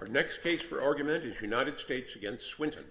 Our next case for argument is United States v. Swinton.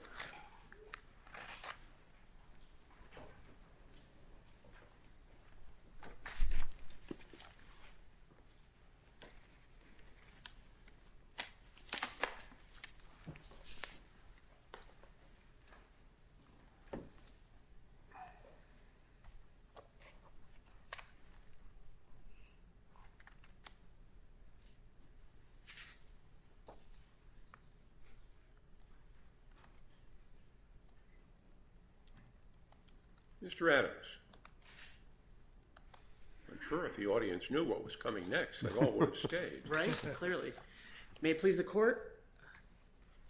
Mr. Adams, I'm sure if the audience knew what was coming next, they all would have stayed. Right, clearly. May it please the court,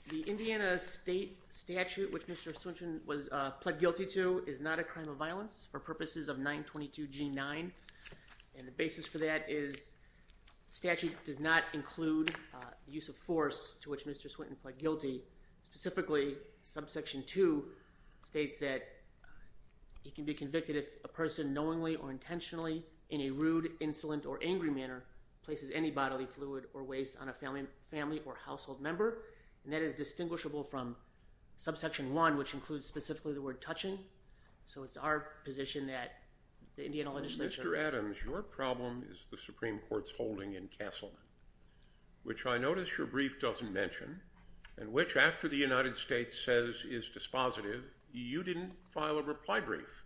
the Indiana state statute which Mr. Swinton was pled guilty to is not a crime of violence for purposes of 922 G9 and the basis for that is the statute does not include the use of force to which Mr. Swinton pled guilty. Specifically, subsection 2 states that he can be convicted if a person knowingly or intentionally in a rude, insolent, or angry manner places any bodily fluid or waste on a family or household member and that is distinguishable from subsection 1 which includes specifically the word touching. So it's our position that the Indiana legislature… Mr. Adams, your problem is the Supreme Court's holding in Castleman, which I notice your brief doesn't mention and which after the United States says is dispositive, you didn't file a reply brief.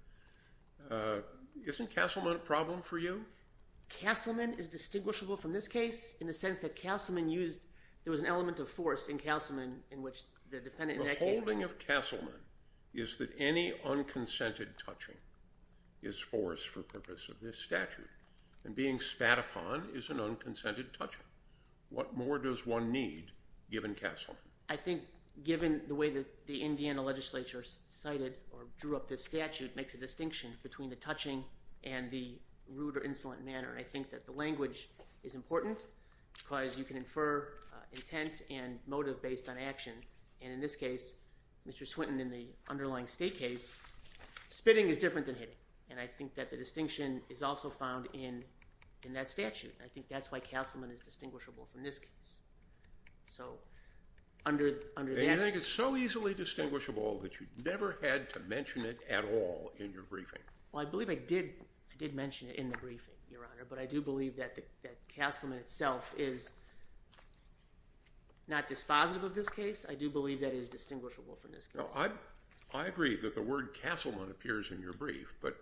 Isn't Castleman a problem for you? Castleman is distinguishable from this case in the sense that Castleman used… there was an element of force in Castleman in which the defendant in that case… The holding of Castleman is that any unconsented touching is force for purpose of this statute and being spat upon is an unconsented touching. What more does one need given Castleman? I think given the way that the Indiana legislature cited or drew up this statute makes a distinction between the touching and the rude or insolent manner. I think that the language is important because you can infer intent and motive based on action and in this case, Mr. Swinton in the underlying state case, spitting is different than hitting and I think that the distinction is also found in that statute. I think that's why Castleman is distinguishable from this case. And you think it's so easily distinguishable that you never had to mention it at all in your briefing? Well, I believe I did mention it in the briefing, Your Honor, but I do believe that Castleman itself is not dispositive of this case. I do believe that it is distinguishable from this case. I agree that the word Castleman appears in your brief but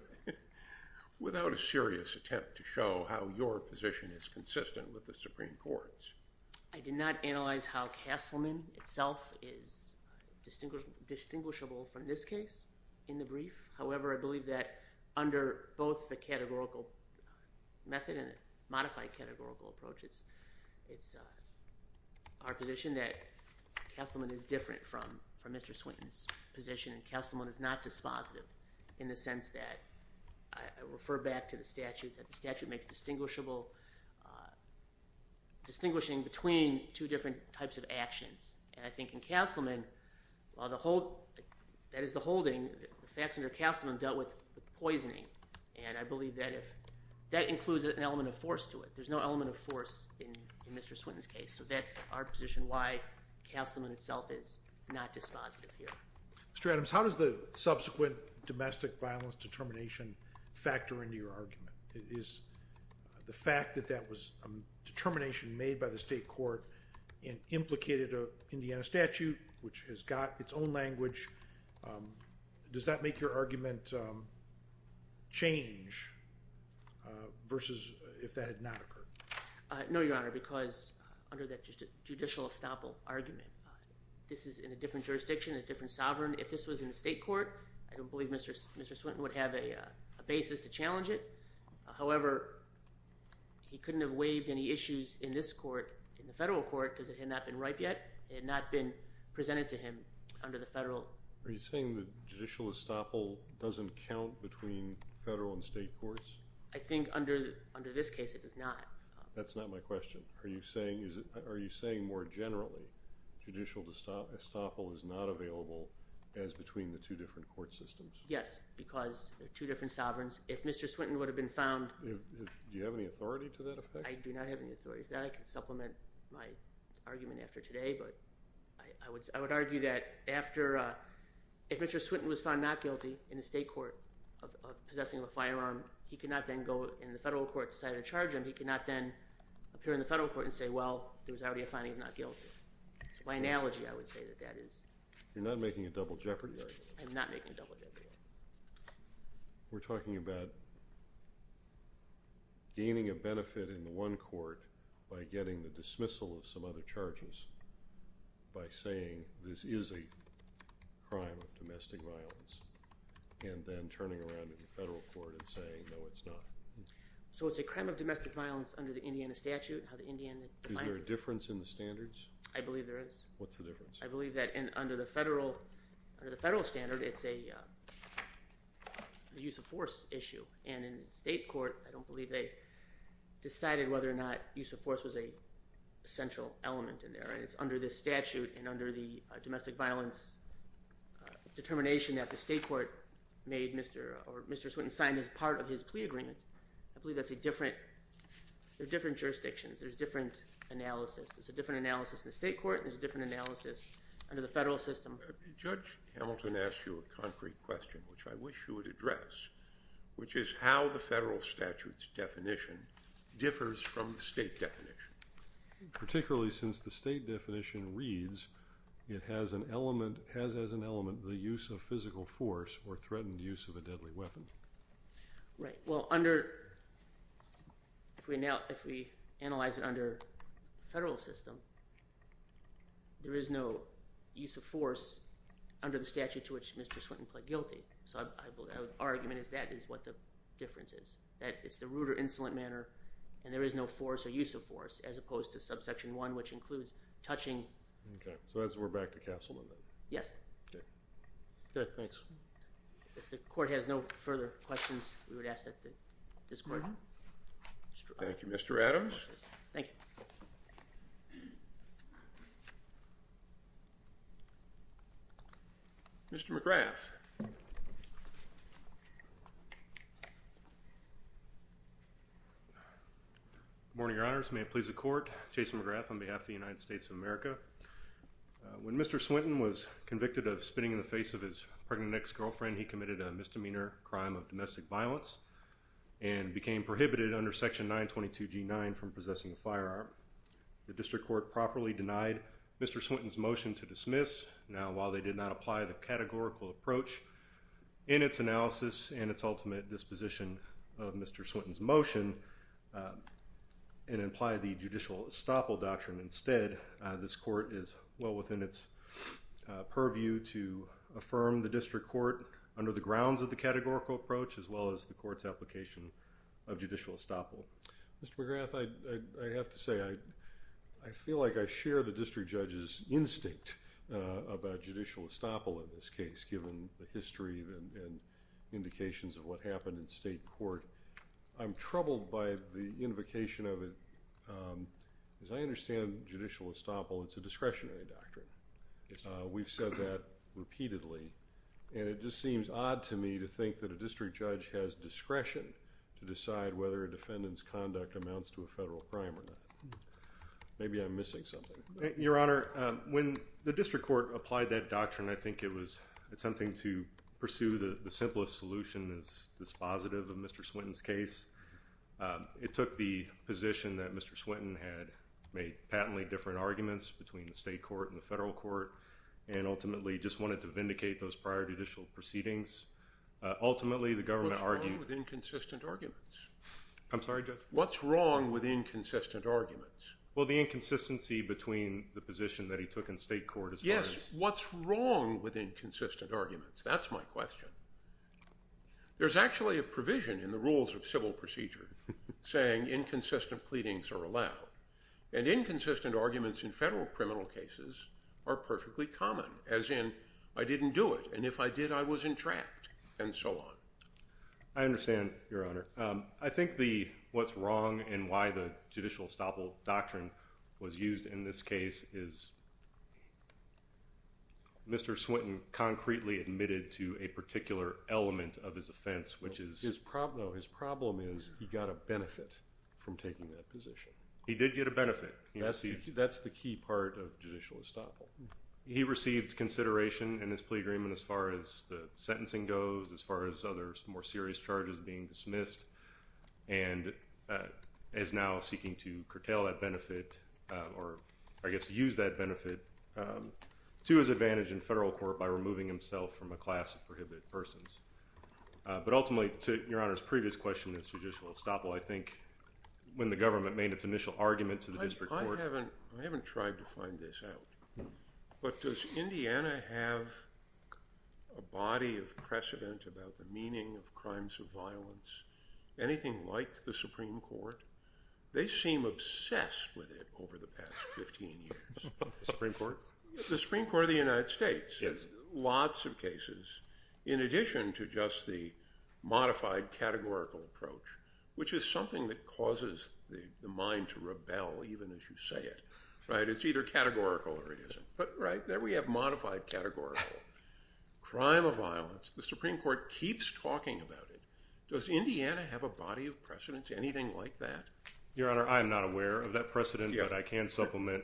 without a serious attempt to show how your position is consistent with the Supreme Court's. I did not analyze how Castleman itself is distinguishable from this case in the brief. However, I believe that under both the categorical method and modified categorical approaches, it's our position that Castleman is different from Mr. Swinton's position and Castleman is not dispositive in the sense that I refer back to the statute that the statute makes distinguishing between two different types of actions. And I think in Castleman, while that is the holding, the facts under Castleman dealt with poisoning. And I believe that includes an element of force to it. There's no element of force in Mr. Swinton's case. So that's our position why Castleman itself is not dispositive here. Mr. Adams, how does the subsequent domestic violence determination factor into your argument? The fact that that was a determination made by the state court and implicated an Indiana statute, which has got its own language, does that make your argument change versus if that had not occurred? No, Your Honor, because under that judicial estoppel argument, this is in a different jurisdiction, a different sovereign. If this was in the state court, I don't believe Mr. Swinton would have a basis to challenge it. However, he couldn't have waived any issues in this court, in the federal court, because it had not been ripe yet. It had not been presented to him under the federal. Are you saying the judicial estoppel doesn't count between federal and state courts? I think under this case it does not. That's not my question. Are you saying more generally judicial estoppel is not available as between the two different court systems? Yes, because there are two different sovereigns. If Mr. Swinton would have been found— Do you have any authority to that effect? I do not have any authority to that. I can supplement my argument after today, but I would argue that after— if Mr. Swinton was found not guilty in the state court of possessing of a firearm, he could not then go in the federal court and decide to charge him. He could not then appear in the federal court and say, well, there was already a finding of not guilty. By analogy, I would say that that is— You're not making a double jeopardy argument? I'm not making a double jeopardy argument. We're talking about gaining a benefit in the one court by getting the dismissal of some other charges by saying this is a crime of domestic violence and then turning around in the federal court and saying, no, it's not. So it's a crime of domestic violence under the Indiana statute, how the Indiana defines it. Is there a difference in the standards? I believe there is. What's the difference? I believe that under the federal standard, it's a use of force issue. And in the state court, I don't believe they decided whether or not use of force was a central element in there. It's under the statute and under the domestic violence determination that the state court made Mr. Swinton sign as part of his plea agreement. I believe that's a different—there are different jurisdictions. There's different analysis. There's a different analysis in the state court. There's a different analysis under the federal system. Judge Hamilton asked you a concrete question, which I wish you would address, which is how the federal statute's definition differs from the state definition, particularly since the state definition reads it has as an element the use of physical force or threatened use of a deadly weapon. Right. Well, under—if we analyze it under the federal system, there is no use of force under the statute to which Mr. Swinton pled guilty. So our argument is that is what the difference is. It's the rude or insolent manner, and there is no force or use of force as opposed to subsection 1, which includes touching— Okay. So that's where we're back to Castleman then? Yes. Okay. Good. Thanks. If the court has no further questions, we would ask that this court— Thank you, Mr. Adams. Thank you. Mr. McGrath. Good morning, Your Honors. May it please the court. Jason McGrath on behalf of the United States of America. When Mr. Swinton was convicted of spitting in the face of his pregnant ex-girlfriend, he committed a misdemeanor crime of domestic violence and became prohibited under Section 922G9 from possessing a firearm. The district court properly denied Mr. Swinton's motion to dismiss. Now, while they did not apply the categorical approach in its analysis and its ultimate disposition of Mr. Swinton's motion and imply the judicial estoppel doctrine instead, this court is well within its purview to affirm the district court under the grounds of the categorical approach as well as the court's application of judicial estoppel. Mr. McGrath, I have to say I feel like I share the district judge's instinct about judicial estoppel in this case, given the history and indications of what happened in state court. I'm troubled by the invocation of it. As I understand judicial estoppel, it's a discretionary doctrine. We've said that repeatedly, and it just seems odd to me to think that a district judge has discretion to decide whether a defendant's conduct amounts to a federal crime or not. Maybe I'm missing something. Your Honor, when the district court applied that doctrine, I think it was something to pursue the simplest solution as dispositive of Mr. Swinton's case. It took the position that Mr. Swinton had made patently different arguments between the state court and the federal court and ultimately just wanted to vindicate those prior judicial proceedings. Ultimately, the government argued- What's wrong with inconsistent arguments? I'm sorry, Judge? What's wrong with inconsistent arguments? Well, the inconsistency between the position that he took in state court is- Yes, what's wrong with inconsistent arguments? That's my question. There's actually a provision in the rules of civil procedure saying inconsistent pleadings are allowed, and inconsistent arguments in federal criminal cases are perfectly common, as in, I didn't do it, and if I did, I was entrapped, and so on. I understand, Your Honor. I think what's wrong and why the judicial estoppel doctrine was used in this case is Mr. Swinton concretely admitted to a particular element of his offense, which is- His problem is he got a benefit from taking that position. He did get a benefit. That's the key part of judicial estoppel. He received consideration in his plea agreement as far as the sentencing goes, as far as other more serious charges being dismissed, and is now seeking to curtail that benefit or, I guess, use that benefit to his advantage in federal court by removing himself from a class of prohibited persons. But ultimately, to Your Honor's previous question in this judicial estoppel, I think when the government made its initial argument to the district court- I haven't tried to find this out, but does Indiana have a body of precedent about the meaning of crimes of violence, anything like the Supreme Court? They seem obsessed with it over the past 15 years. The Supreme Court? Yes. I'm referring to just the modified categorical approach, which is something that causes the mind to rebel, even as you say it. It's either categorical or it isn't. But there we have modified categorical. Crime of violence. The Supreme Court keeps talking about it. Does Indiana have a body of precedents, anything like that? Your Honor, I am not aware of that precedent, but I can supplement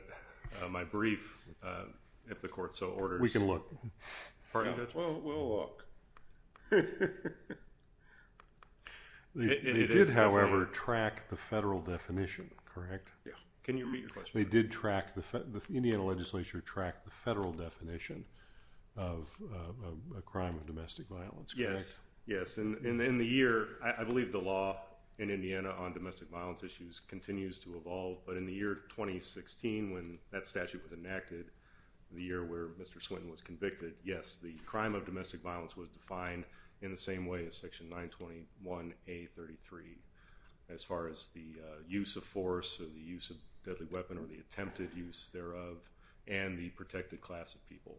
my brief if the court so orders. We can look. We'll look. They did, however, track the federal definition, correct? Yeah. Can you repeat your question? They did track- the Indiana legislature tracked the federal definition of a crime of domestic violence, correct? Yes. In the year- I believe the law in Indiana on domestic violence issues continues to evolve. But in the year 2016, when that statute was enacted, the year where Mr. Swinton was convicted, yes, the crime of domestic violence was defined in the same way as section 921A33, as far as the use of force or the use of deadly weapon or the attempted use thereof, and the protected class of people.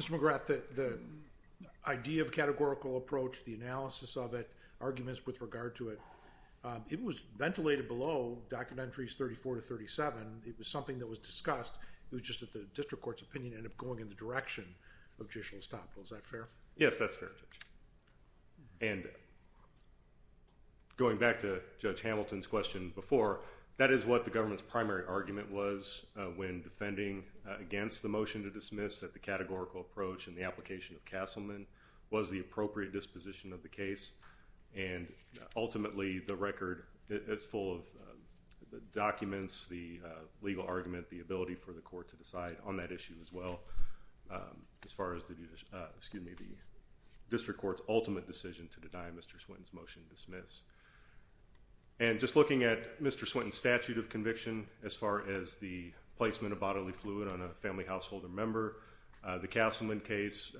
Mr. McGrath, the idea of categorical approach, the analysis of it, arguments with regard to it, it was ventilated below Documentaries 34 to 37. It was something that was discussed. It was just that the district court's opinion ended up going in the direction of judicial estoppel. Is that fair? Yes, that's fair, Judge. And going back to Judge Hamilton's question before, that is what the government's primary argument was when defending against the motion to dismiss that the categorical approach and the application of Castleman was the appropriate disposition of the case. And ultimately, the record is full of documents, the legal argument, the ability for the court to decide on that issue as well, as far as the district court's ultimate decision to deny Mr. Swinton's motion to dismiss. And just looking at Mr. Swinton's statute of conviction, as far as the placement of bodily fluid on a family household or member, the Castleman case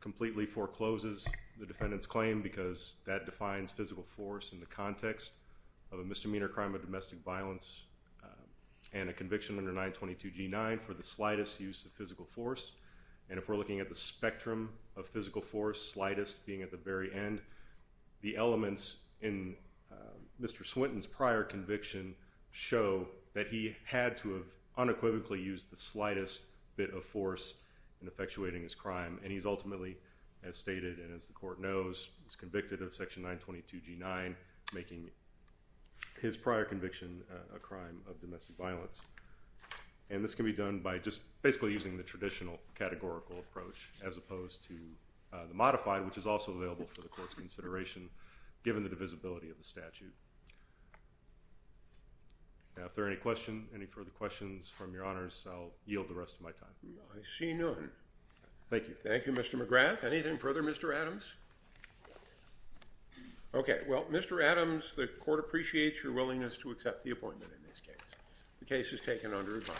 completely forecloses the defendant's claim because that defines physical force in the context of a misdemeanor crime of domestic violence and a conviction under 922G9 for the slightest use of physical force. And if we're looking at the spectrum of physical force, slightest being at the very end, the elements in Mr. Swinton's prior conviction show that he had to have unequivocally used the slightest bit of force in effectuating his crime. And he's ultimately, as stated and as the court knows, was convicted of section 922G9, making his prior conviction a crime of domestic violence. And this can be done by just basically using the traditional categorical approach as opposed to the modified, which is also available for the court's consideration, given the divisibility of the statute. Now, if there are any questions, any further questions from your honors, I'll yield the rest of my time. I see none. Thank you. Thank you, Mr. McGrath. Anything further, Mr. Adams? Okay, well, Mr. Adams, the court appreciates your willingness to accept the appointment in this case. The case is taken under advice.